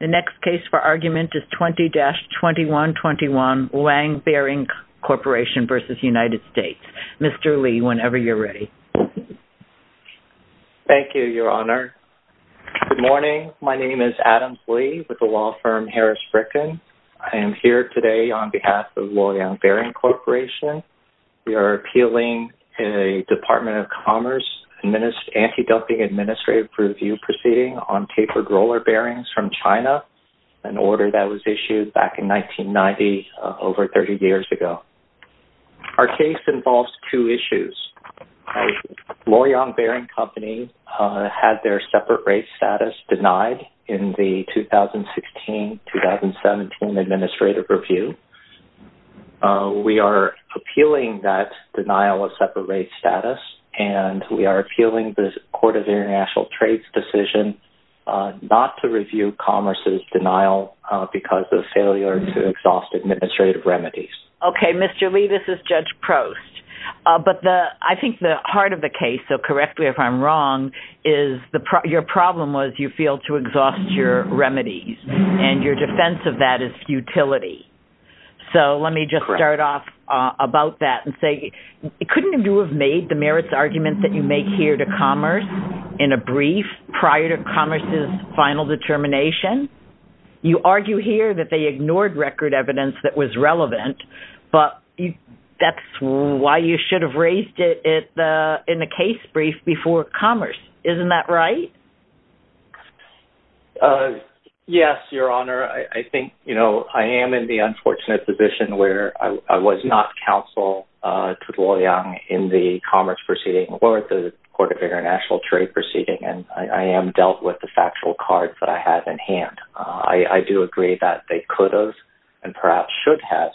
The next case for argument is 20-2121, Luoyang Bearing Corporation v. United States. Mr. Lee, whenever you're ready. Thank you, Your Honor. Good morning. My name is Adam Lee with the law firm Harris-Bricken. I am here today on behalf of Luoyang Bearing Corporation. We are appealing a Department of Commerce anti-dumping administrative review proceeding on tapered roller bearings from China, an order that was issued back in 1990, over 30 years ago. Our case involves two issues. Luoyang Bearing Company had their separate rate status denied in the 2016-2017 administrative review. We are appealing that denial of separate rate status, and we are appealing the Court of International Trades' decision not to review Commerce's denial because of failure to exhaust administrative remedies. Okay, Mr. Lee, this is Judge Prost. But I think the heart of the case, so correct me if I'm wrong, is your problem was you failed to exhaust your remedies, and your defense of that is futility. So let me just start off about that and say, couldn't you have made the merits arguments that you make here to Commerce in a brief prior to Commerce's final determination? You argue here that they ignored record evidence that was relevant, but that's why you should have raised it in the case brief before Commerce. Isn't that right? Yes, Your Honor. I think, you know, I am in the unfortunate position where I was not counsel to Luoyang in the Commerce proceeding or the Court of International Trade proceeding, and I am dealt with the factual cards that I have in hand. I do agree that they could have, and perhaps should have,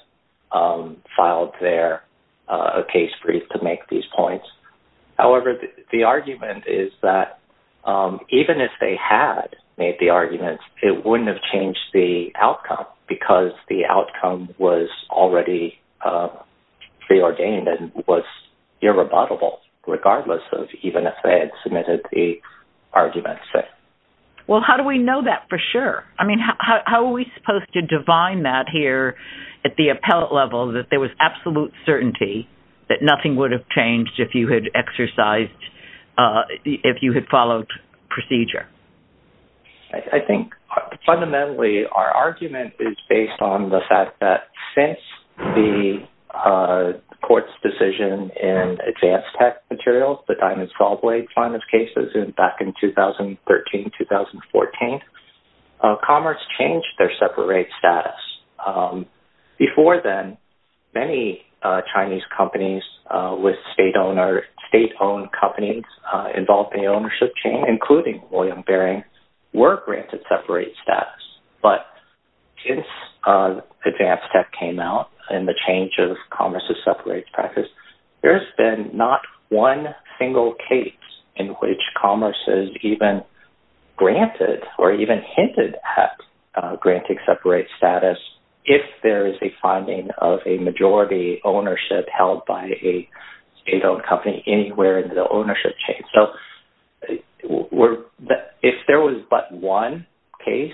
filed there a case brief to make these points. However, the argument is that even if they had made the arguments, it wouldn't have changed the outcome, because the outcome was already preordained and was irrebuttable, regardless of even if they had submitted the arguments. Well, how do we know that for sure? I mean, how are we supposed to divine that here at the appellate level that there was absolute certainty that nothing would have exercised if you had followed procedure? I think, fundamentally, our argument is based on the fact that since the Court's decision in Advanced Tech Materials, the Diamonds Gallblade final cases back in 2013-2014, Commerce changed their separate rate status. Before then, many Chinese companies with state-owned companies involved in the ownership chain, including Luoyang Bearing, were granted separate status. But since Advanced Tech came out and the change of Commerce's separate rate status, there has been not one single case in which Commerce has even granted or even hinted at granting separate status if there is a finding of a majority ownership held by a state-owned company anywhere in the ownership chain. So, if there was but one case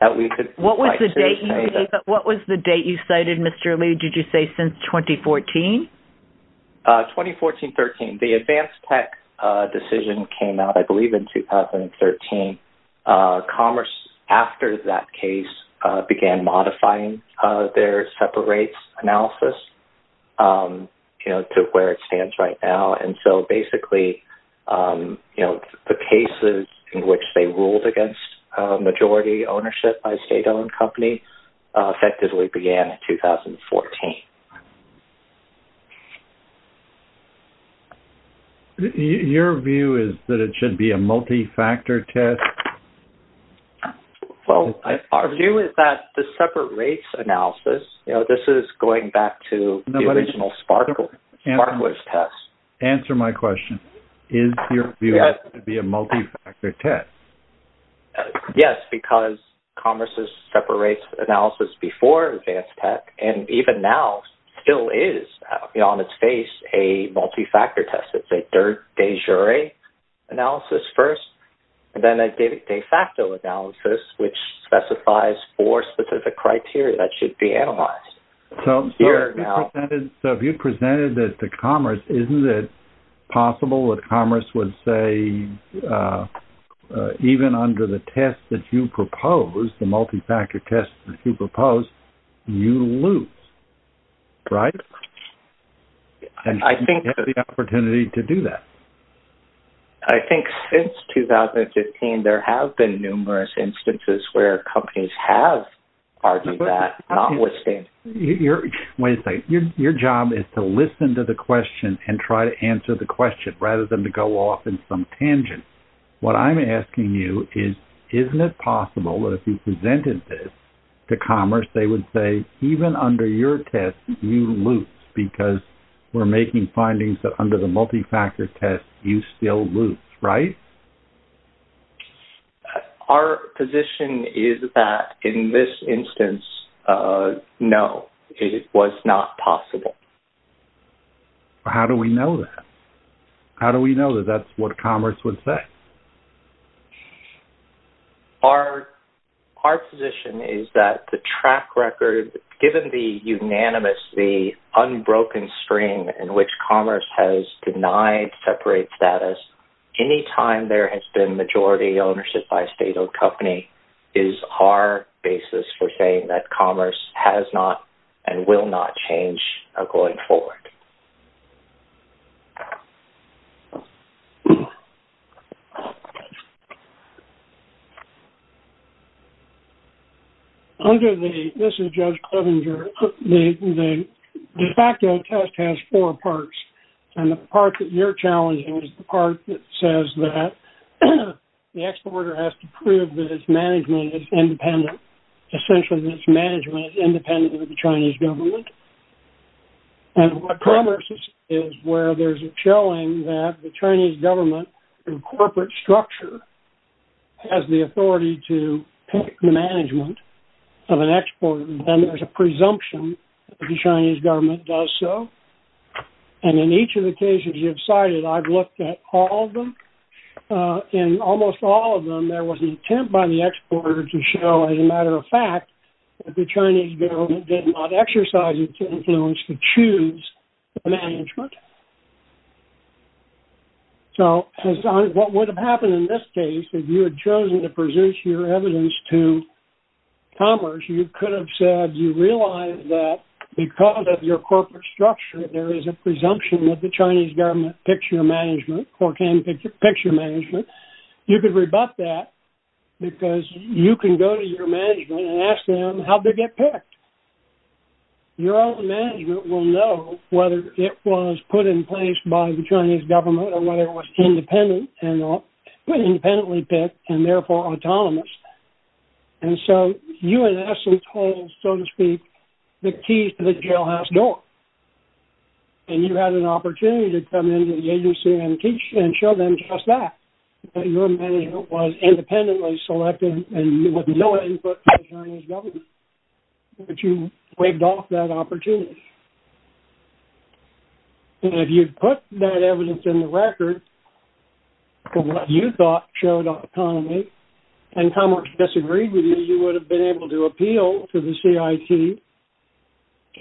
that we could... What was the date you cited, Mr. Lee? Did you say since 2014? 2014-13. The Advanced Tech decision came out, I believe, in 2013. Commerce, after that case, began modifying their separate rate analysis to where it stands right now. And so, basically, the cases in which they ruled against majority ownership by a state-owned company effectively began in 2014. Your view is that it should be a multi-factor test? Well, our view is that the separate rates analysis, this is going back to the original SPARQLESS test. Answer my question. Is your view that it should be a multi-factor test? Yes, because Commerce's separate rate analysis before Advanced Tech and even now still is on phase, a multi-factor test. It's a de jure analysis first and then a de facto analysis, which specifies four specific criteria that should be analyzed. So, if you presented that to Commerce, isn't it possible that Commerce would say, even under the test that you propose, the multi-factor test that you propose, you lose, right? And you have the opportunity to do that. I think since 2015, there have been numerous instances where companies have argued that. Wait a second. Your job is to listen to the question and try to answer the question rather than to go off in some tangent. What I'm asking you is, isn't it possible that if you presented this to Commerce, they would say, even under your test, you lose because we're making findings that under the multi-factor test, you still lose, right? Our position is that in this instance, no, it was not possible. How do we know that? How do we know that that's what Commerce would say? So, our position is that the track record, given the unanimous, the unbroken stream in which Commerce has denied separate status, any time there has been majority ownership by a state-owned company is our basis for saying that Commerce has not and will not change going forward. Okay. This is Judge Clevenger. The de facto test has four parts. And the part that you're challenging is the part that says that the exporter has to prove that its management is independent, essentially that its management is independent of the Chinese government. And what Commerce is, is where there's a showing that the Chinese government in corporate structure has the authority to pick the management of an exporter. Then there's a presumption that the Chinese government does so. And in each of the cases you have cited, I've looked at all of them. In almost all of them, there was an attempt by the exporter to show, as a matter of fact, that the Chinese government did not exercise its influence to choose the management. So, what would have happened in this case, if you had chosen to present your evidence to Commerce, you could have said, you realize that because of your corporate structure, there is a presumption that the Chinese government picks your management or can pick your management. You could rebut that because you can go to your management and ask them how they get picked. Your own management will know whether it was put in place by the Chinese government or whether it was independent and independently picked and therefore autonomous. And so, you in essence hold, so to speak, the keys to the jailhouse door. And you had an opportunity to come into the agency and teach and show them just that, that your management was independently selected and with no input from the Chinese government, but you waved off that opportunity. And if you put that evidence in the record for what you thought showed autonomy, and Commerce disagreed with you, you would have been able to appeal to the CIT,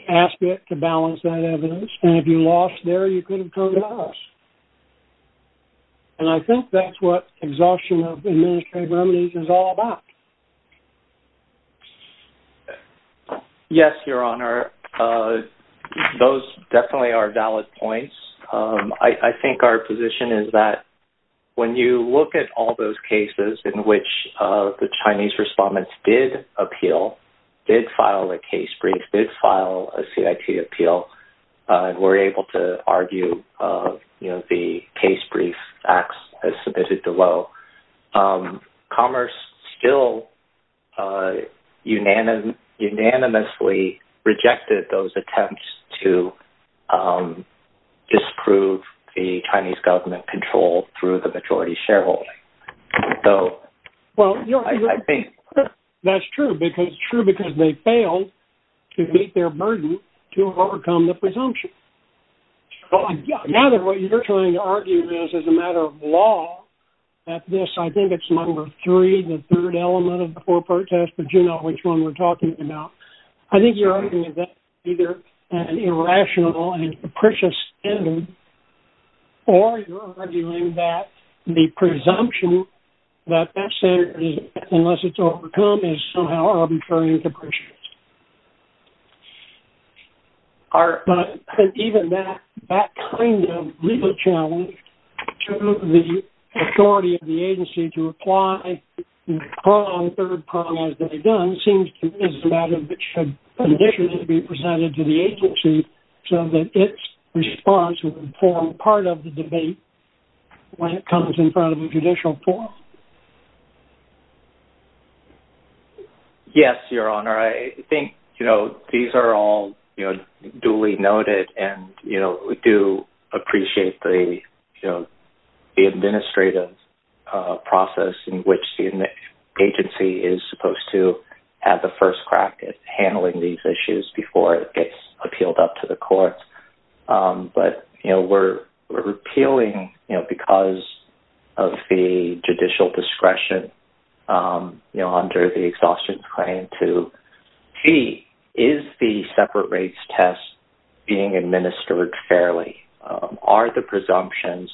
ask it to balance that evidence, and if you lost there, you could have come to us. And I think that's what exhaustion of administrative remedies is all about. Yes, Your Honor. Those definitely are valid points. I think our position is that when you look at all those cases in which the Chinese respondents did appeal, did file a case brief, did file a CIT appeal, and were able to argue the case brief acts as submitted below, Commerce still unanimously rejected those attempts to disprove the Chinese government control through the majority shareholding. That's true, because they failed to meet their burden to overcome the presumption. Now what you're trying to argue is, as a matter of law, that this, I think it's number three, the third element of the four-part test, but you know which one we're talking about. I think you're arguing that either an irrational and capricious standard, or you're arguing that the presumption that that standard, unless it's overcome, is somehow arbitrary and capricious. But even that kind of legal challenge to the authority of the agency to apply the third problem as they've done seems to be a matter that should conditionally be presented to the agency so that its response will form part of the debate when it comes in front of a judicial forum. Yes, your honor. I think these are all duly noted, and we do appreciate the administrative process in which the agency is supposed to have the first crack at handling these issues before it gets appealed up to the courts, but we're appealing because of the judicial discretion under the Exhaustion Claim to, gee, is the separate rates test being administered fairly? Are the presumptions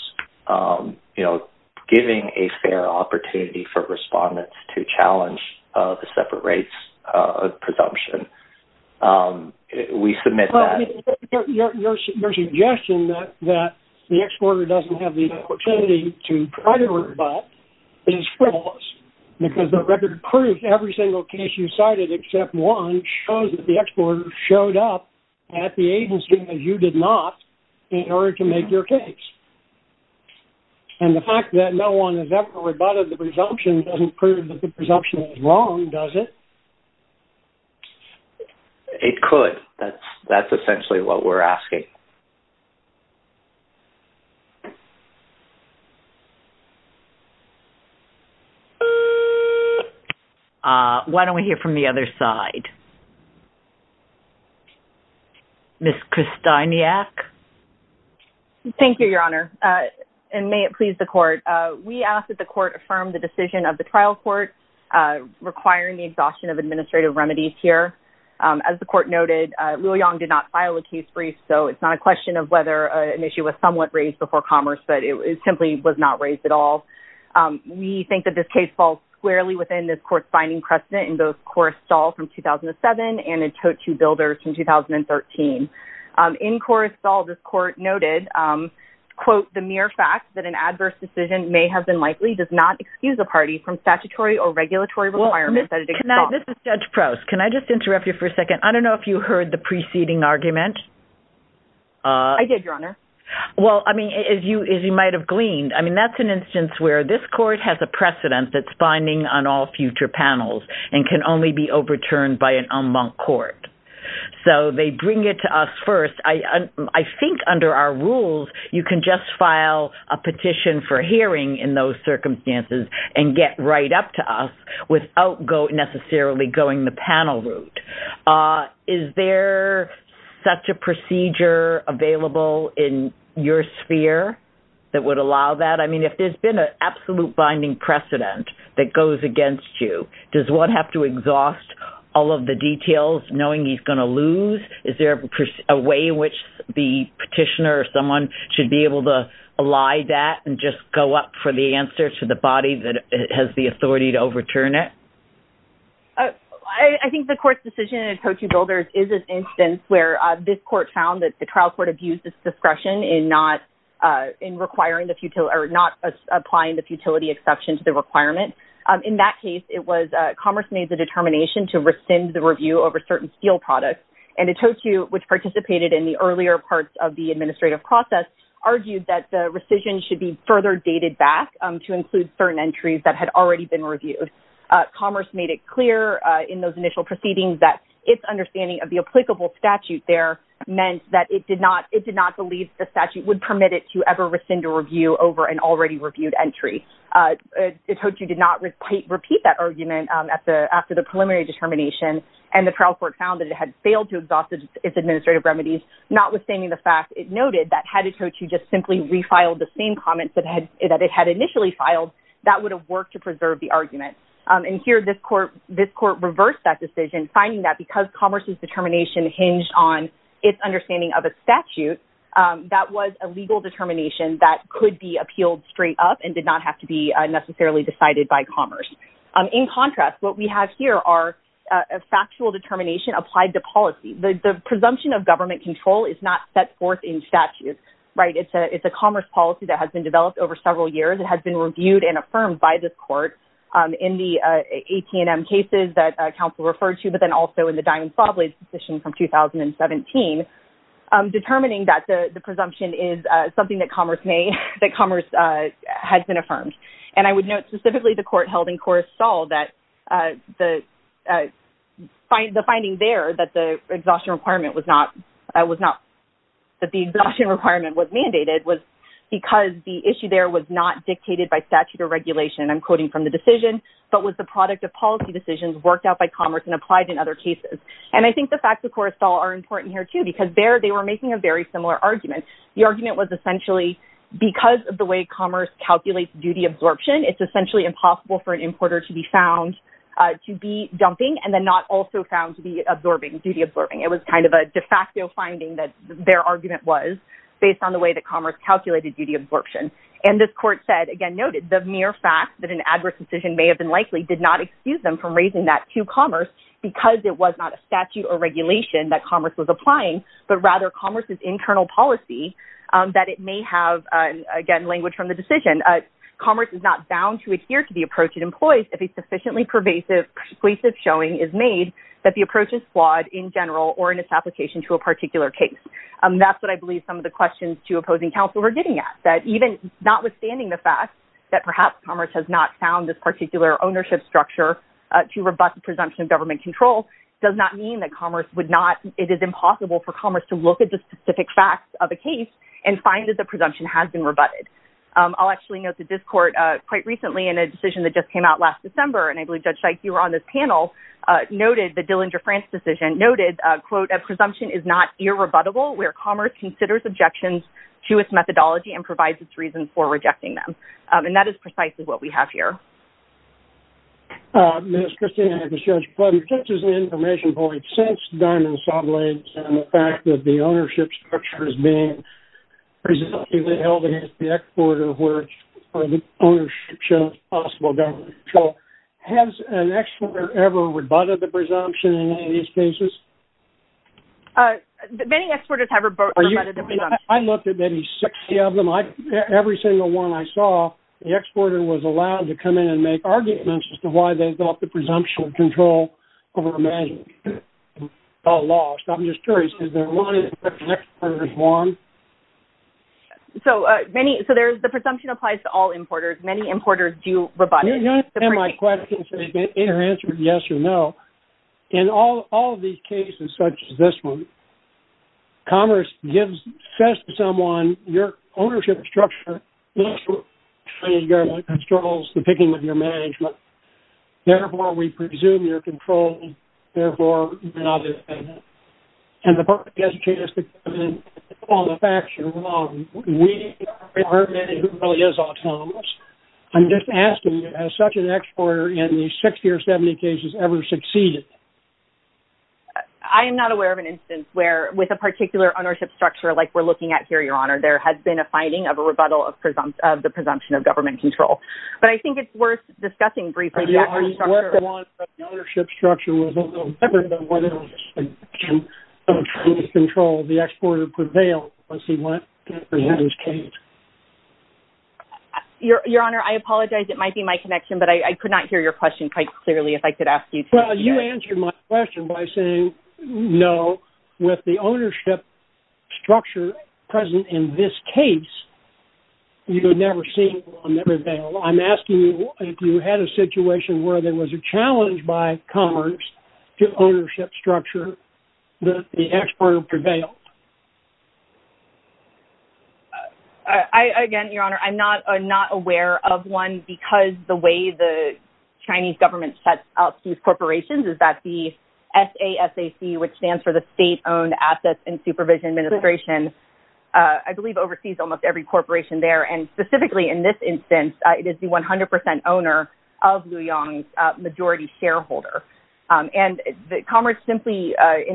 giving a fair opportunity for respondents to try to rebut? We submit that. Your suggestion that the exporter doesn't have the opportunity to try to rebut is frivolous, because the record proof of every single case you cited, except one, shows that the exporter showed up at the agency that you did not in order to make your case. And the fact that no one has ever rebutted the presumption doesn't prove that the presumption is wrong, does it? It could. That's essentially what we're asking. Why don't we hear from the other side? Ms. Kristeiniak? Thank you, your honor, and may it please the court. We ask that the court affirm the decision of the trial court requiring the exhaustion of administrative remedies here. As the court noted, Liu Yong did not file a case brief, so it's not a question of whether an issue was somewhat raised before commerce, but it simply was not raised at all. We think that this case falls squarely within this court's binding precedent in both Korrestal from 2007 and in Totu Builders from 2013. In Korrestal, this court noted, quote, the mere fact that an excuse a party from statutory or regulatory requirements that it exhausts. This is Judge Prouse. Can I just interrupt you for a second? I don't know if you heard the preceding argument. I did, your honor. Well, I mean, as you might have gleaned, I mean, that's an instance where this court has a precedent that's binding on all future panels and can only be overturned by an en banc court. So they bring it to us first. I think under our rules, you can file a petition for hearing in those circumstances and get right up to us without necessarily going the panel route. Is there such a procedure available in your sphere that would allow that? I mean, if there's been an absolute binding precedent that goes against you, does one have to exhaust all of the details knowing he's going to lose? Is there a way in which the petitioner someone should be able to lie that and just go up for the answer to the body that has the authority to overturn it? I think the court's decision in Otoku Builders is an instance where this court found that the trial court abused its discretion in requiring the futility or not applying the futility exception to the requirement. In that case, it was commerce made the determination to rescind the review over certain steel products. And Otoku, which participated in the earlier parts of the process, argued that the rescission should be further dated back to include certain entries that had already been reviewed. Commerce made it clear in those initial proceedings that its understanding of the applicable statute there meant that it did not believe the statute would permit it to ever rescind a review over an already reviewed entry. Otoku did not repeat that argument after the preliminary determination. And the trial court found that it had failed to noted that had Otoku just simply refiled the same comments that it had initially filed, that would have worked to preserve the argument. And here, this court reversed that decision, finding that because commerce's determination hinged on its understanding of a statute, that was a legal determination that could be appealed straight up and did not have to be necessarily decided by commerce. In contrast, what we have here are a factual determination applied to policy. The presumption of government control is not set forth in statute, right? It's a commerce policy that has been developed over several years. It has been reviewed and affirmed by this court in the AT&M cases that counsel referred to, but then also in the Diamond Sawblades decision from 2017, determining that the presumption is something that commerce may, that commerce has been affirmed. And I would note specifically the court held in Coruscant that the finding there that the exhaustion requirement was not, that the exhaustion requirement was mandated was because the issue there was not dictated by statute or regulation, and I'm quoting from the decision, but was the product of policy decisions worked out by commerce and applied in other cases. And I think the facts of Coruscant are important here too, because there they were making a very similar argument. The argument was essentially, because of the way commerce calculates duty absorption, it's essentially impossible for an importer to be found to be dumping and then not also found to be absorbing, duty absorbing. It was kind of a de facto finding that their argument was based on the way that commerce calculated duty absorption. And this court said, again, noted the mere fact that an adverse decision may have been likely did not excuse them from raising that to commerce because it was not a statute or regulation that commerce was applying, but rather commerce's internal policy, that it may have, again, language from the decision. Commerce is not bound to adhere to the approach it employs if a sufficiently pervasive, persuasive showing is made that approaches flawed in general or in its application to a particular case. That's what I believe some of the questions to opposing counsel are getting at, that even notwithstanding the fact that perhaps commerce has not found this particular ownership structure to rebut the presumption of government control does not mean that commerce would not, it is impossible for commerce to look at the specific facts of a case and find that the presumption has been rebutted. I'll actually note that this court quite recently in a decision that just came out last December, and I believe the Dillinger-France decision noted, quote, a presumption is not irrebuttable where commerce considers objections to its methodology and provides its reasons for rejecting them. And that is precisely what we have here. Ms. Christina, just as an information point, since Diamond Saw Blades and the fact that the ownership structure is being held against the export of where the ownership shows possible government control, has an exporter ever rebutted the presumption in any of these cases? Many exporters have rebutted the presumption. I looked at maybe 60 of them. Every single one I saw, the exporter was allowed to come in and make arguments as to why they thought the presumption of control over management. It's all lost. I'm just curious, is there one that the exporter has won? So, the presumption applies to all importers. Many importers do rebut. You understand my question, so you can either answer yes or no. In all of these cases, such as this one, commerce gives, says to someone, your ownership structure looks for trade government controls to begin with your management. Therefore, we presume your control, and therefore, you can either say no. And the purpose of this case is to come in on the facts. We aren't determining who really is autonomous. I'm just asking, has such an exporter in the 60 or 70 cases ever succeeded? I am not aware of an instance where, with a particular ownership structure like we're looking at here, your honor, there has been a finding of a rebuttal of the presumption of government control. But I think it's worth discussing briefly. Yeah, I mean, what's the one that the ownership structure was a little different, than what it was in terms of trade control? The exporter prevailed, as he went through this case. Your honor, I apologize. It might be my connection, but I could not hear your question quite clearly, if I could ask you to. Well, you answered my question by saying no. With the ownership structure present in this case, you've never seen one that prevailed. I'm asking you if you had a situation where there was a ownership structure that the exporter prevailed. Again, your honor, I'm not aware of one, because the way the Chinese government sets up these corporations is that the SASAC, which stands for the State Owned Assets and Supervision Administration, I believe oversees almost every corporation there. And specifically in this in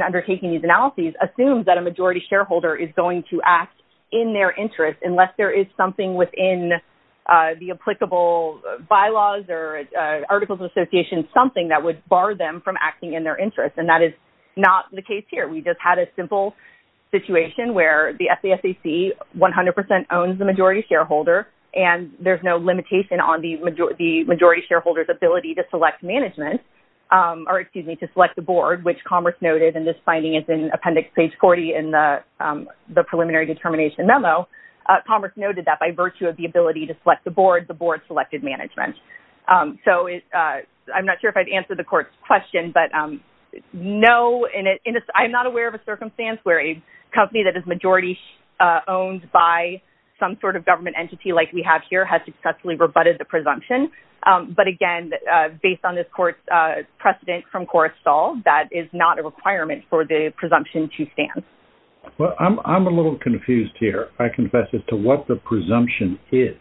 undertaking these analyses, assumes that a majority shareholder is going to act in their interest, unless there is something within the applicable bylaws or articles of association, something that would bar them from acting in their interest. And that is not the case here. We just had a simple situation where the SASAC 100% owns the majority shareholder, and there's no limitation on the majority shareholder's ability to select management, or excuse me, to select the board, which Commerce noted, and this finding is in appendix page 40 in the preliminary determination memo. Commerce noted that by virtue of the ability to select the board, the board selected management. So I'm not sure if I've answered the court's question, but no, I'm not aware of a circumstance where a company that is majority owned by some sort of government entity like we have here has successfully rebutted the presumption. But again, based on this court's precedent from Coruscant, that is not a requirement for the presumption to stand. Well, I'm a little confused here, I confess, as to what the presumption is.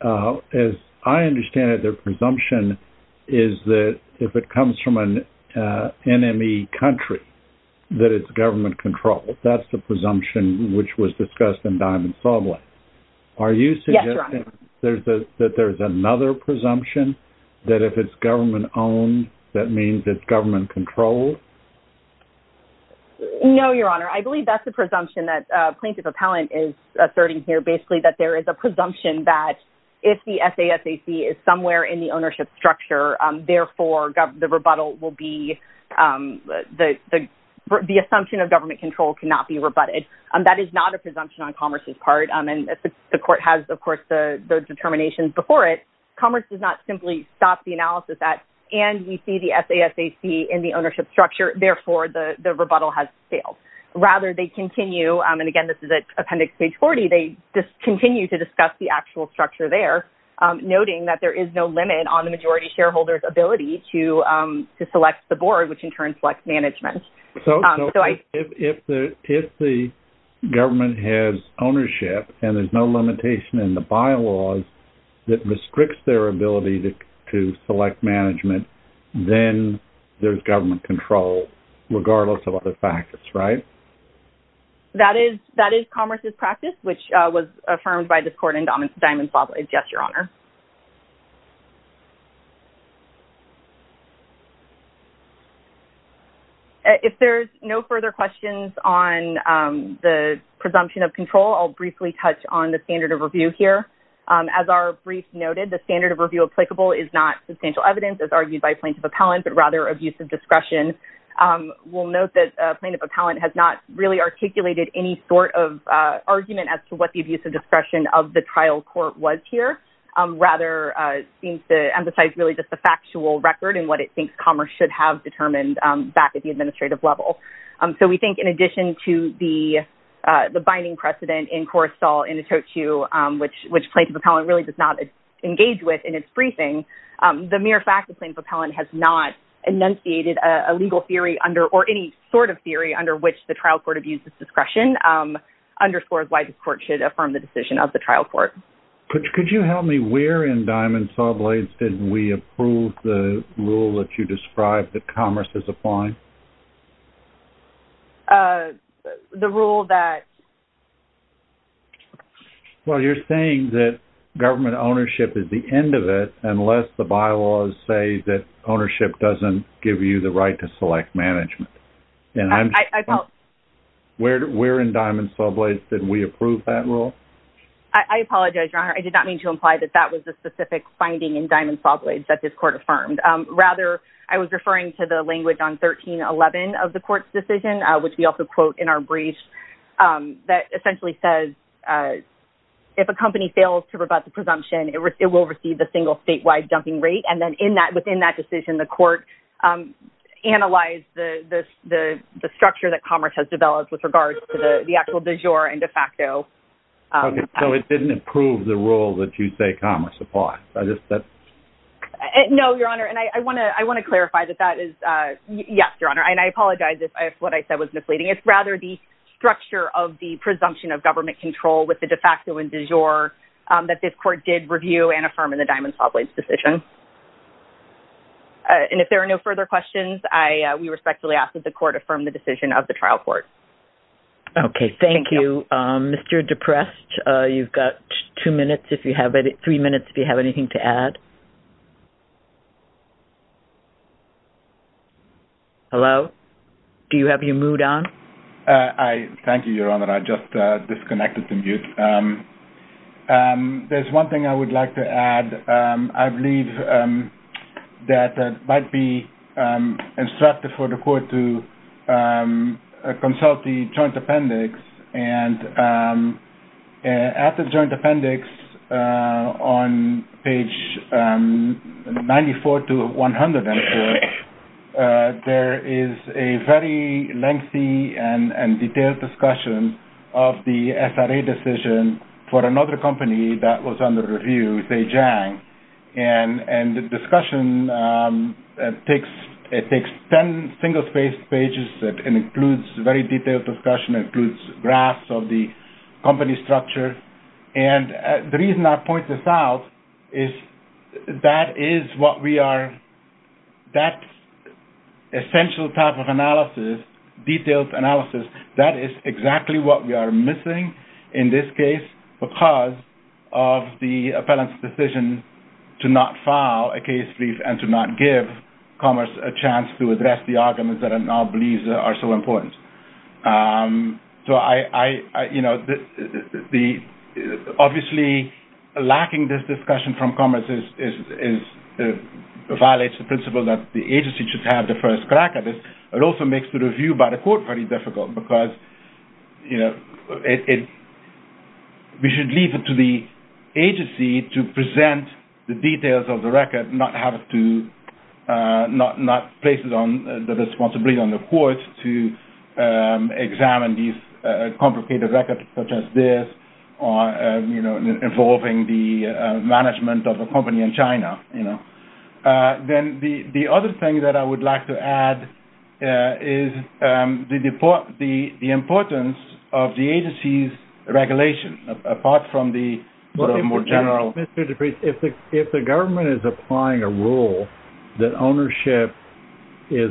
As I understand it, their presumption is that if it comes from an NME country, that it's government controlled. That's the presumption which was discussed in Diamond that if it's government owned, that means it's government controlled. No, Your Honor, I believe that's the presumption that plaintiff appellant is asserting here, basically, that there is a presumption that if the SASAC is somewhere in the ownership structure, therefore, the assumption of government control cannot be rebutted. That is not a presumption on Commerce's part. And the court has, of course, the Commerce does not simply stop the analysis at, and we see the SASAC in the ownership structure, therefore, the rebuttal has failed. Rather, they continue, and again, this is at appendix page 40, they just continue to discuss the actual structure there, noting that there is no limit on the majority shareholder's ability to select the board, which in turn selects management. So if the government has ownership, and there's no limitation in the bylaws that restricts their ability to select management, then there's government control, regardless of other factors, right? That is Commerce's practice, which was affirmed by this court in Diamond's law. Yes, Your Honor. If there's no further questions on the presumption of control, I'll briefly touch on the standard of review here. As our brief noted, the standard of review applicable is not substantial evidence as argued by plaintiff appellant, but rather abuse of discretion. We'll note that plaintiff appellant has not really articulated any sort of argument as to what the abuse of discretion of the trial court was here. Rather, it seems to emphasize really just the factual record and what it thinks Commerce should have determined back at the administrative level. So we think in addition to the binding precedent in Coruscant in the totu, which plaintiff appellant really does not engage with in its briefing, the mere fact that plaintiff appellant has not enunciated a legal theory under or any sort of theory under which the trial court abuses discretion underscores why this court should affirm the decision of the trial court. Could you help me? Where in Diamond Sawblades did we approve the that Commerce is applying? The rule that... Well, you're saying that government ownership is the end of it unless the bylaws say that ownership doesn't give you the right to select management. Where in Diamond Sawblades did we approve that rule? I apologize, Your Honor. I did not mean to imply that that was the specific finding in Diamond Sawblades that this court affirmed. Rather, I was referring to the language on 1311 of the court's decision, which we also quote in our brief that essentially says, if a company fails to rebut the presumption, it will receive the single statewide dumping rate. And then within that decision, the court analyzed the structure that Commerce has developed with regards to the actual du jour and de facto. So it didn't approve the rule that you say Commerce applies? No, Your Honor. And I want to clarify that that is... Yes, Your Honor. And I apologize if what I said was misleading. It's rather the structure of the presumption of government control with the de facto and du jour that this court did review and affirm in the Diamond Sawblades decision. And if there are no further questions, we respectfully ask that the court affirm the decision of the trial court. Okay. Thank you. Mr. Deprest, you've got two minutes, three minutes if you have anything to add. Hello? Do you have your mute on? Thank you, Your Honor. I just disconnected the mute. There's one thing I would like to add. I believe that might be instructive for the court to consult the joint appendix. And at the joint appendix on page 94 to 104, there is a very lengthy and detailed discussion of the SRA decision for another company that was under review, say, Jang. And the discussion it takes 10 single-page pages that includes very detailed discussion, includes graphs of the company structure. And the reason I point this out is that is what we are... Essential type of analysis, detailed analysis, that is exactly what we are missing in this case because of the appellant's decision to not file a case brief and to not give Commerce a chance to address the arguments that it now believes are so important. So, obviously, lacking this discussion from Commerce violates the principle that the agency should have the first crack at this. It also makes the review by the court very difficult because we should leave it to the agency to present the details of the record, not place it on the responsibility on the court to examine these complicated records such as this involving the management of a company in China. Then the other thing that I would like to add is the importance of the agency's regulation apart from the more general... Mr. DePriest, if the government is applying a rule that ownership is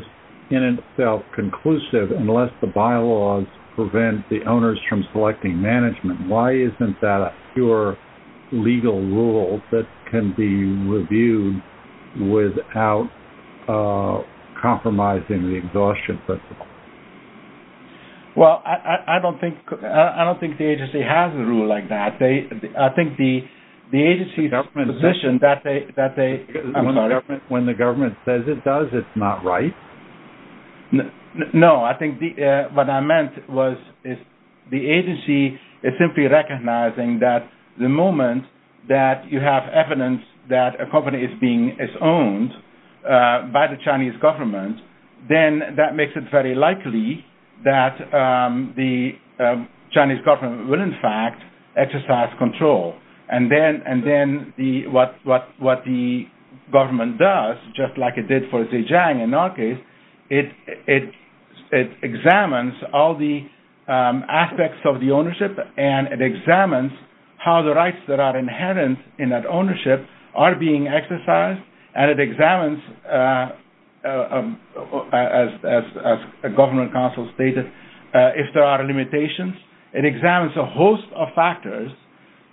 in itself conclusive unless the bylaws prevent the owners from selecting management, why isn't that a pure legal rule that can be reviewed without compromising the exhaustion principle? Well, I don't think the agency has a rule like that. I think the agency's position that they... When the government says it does, it's not right? No, I think what I meant was the agency is simply recognizing that the moment that you have evidence that a company is being owned by the Chinese government, then that makes it very likely that the Chinese government will, in fact, exercise control. And then what the government does, just like it did for Zhejiang in our case, it examines all the aspects of the ownership and it examines how the rights that are inherent in that ownership are being exercised and it examines, as a government counsel stated, if there are limitations. It examines a host of factors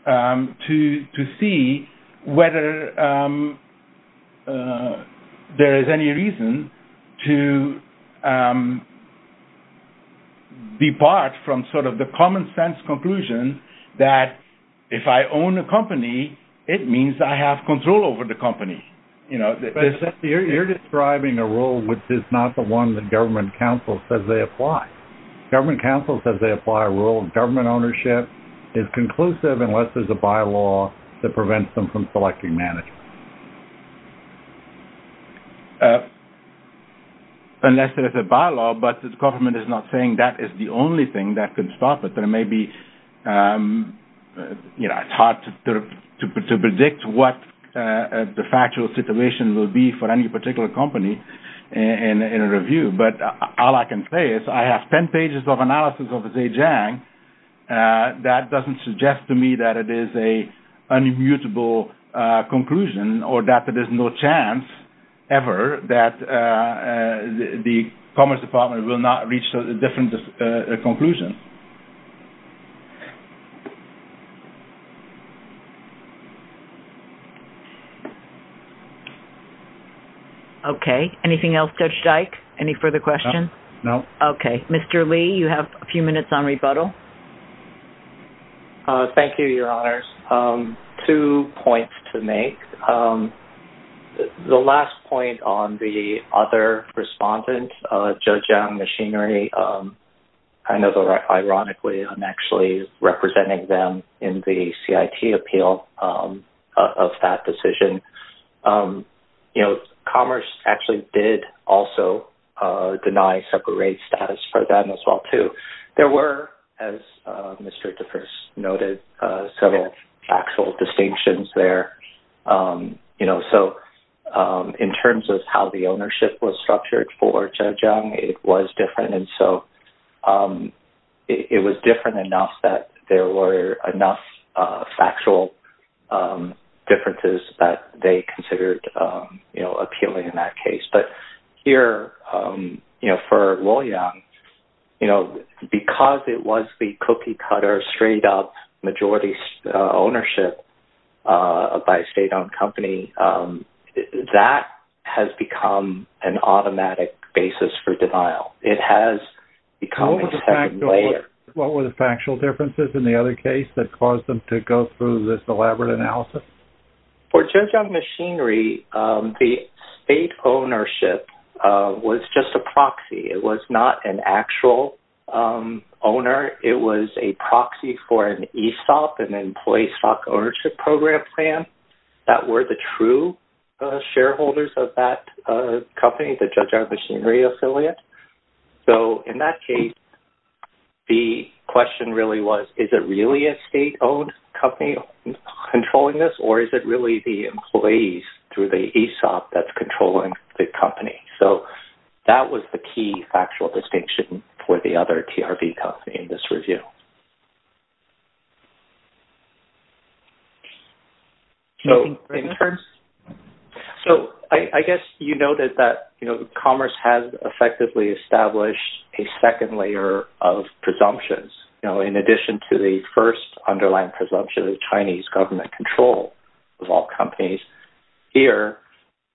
to see whether there is any reason to depart from the common sense conclusion that if I own a company, it means I have control over the company. You're describing a rule which is not the one that government counsel says they apply. Government counsel says they apply a rule of government ownership is conclusive unless there's a bylaw that prevents them from selecting management. Unless there is a bylaw, but the government is not saying that is the only thing that could stop it. There may be... It's hard to predict what the factual situation will be for any particular company in a review, but all I can say is I have 10 pages of analysis of Zhejiang that doesn't suggest to me that it is an immutable conclusion or that there's no chance ever that the Commerce Department will not reach a different conclusion. Okay. Anything else, Judge Dyke? Any further questions? No. Okay. Mr. Lee, you have a few minutes on rebuttal. Thank you, Your Honors. Two points to make. The last point on the other respondent, Zhejiang Machinery, I know that ironically I'm actually representing them in the CIT appeal of that decision. Commerce actually did also deny separate status for them as well, too. There were, as Mr. DeForest noted, several factual distinctions there. So in terms of how the ownership was structured for Zhejiang, it was different. And so it was different enough that there were enough factual differences that they considered appealing in that case. But here for Luoyang, because it was the cookie-cutter straight-up ownership by a state-owned company, that has become an automatic basis for denial. What were the factual differences in the other case that caused them to go through this elaborate analysis? For Zhejiang Machinery, the state ownership was just a proxy. It was not an actual owner. It was a proxy for an ESOP, an Employee Stock Ownership Program plan, that were the true shareholders of that company, the Zhejiang Machinery affiliate. So in that case, the question really was, is it really a state-owned company controlling this, or is it really the employees through the ESOP that's controlling the company? So that was the key factual distinction for the other TRV company in this review. So I guess you noted that commerce has effectively established a second layer of presumptions. In addition to the first underlying presumption of Chinese government control of all companies, here,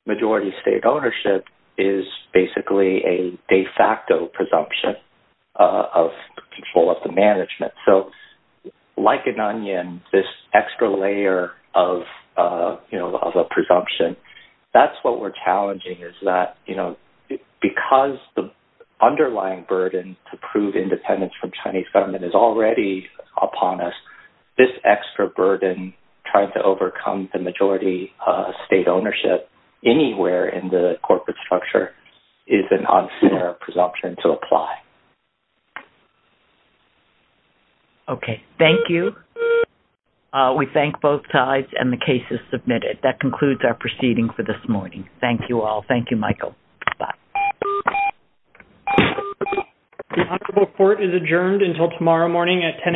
majority state ownership is basically a de facto presumption of control of the management. So like an onion, this extra layer of a presumption, that's what we're challenging, is that because the underlying burden to prove independence from Chinese government is already upon us, this extra burden trying to overcome the majority state ownership anywhere in the corporate structure is an unfair presumption to apply. Okay, thank you. We thank both sides, and the case is submitted. That concludes our proceeding for this morning. Thank you all. Thank you, Michael. Bye. The honorable court is adjourned until tomorrow morning at 10 a.m.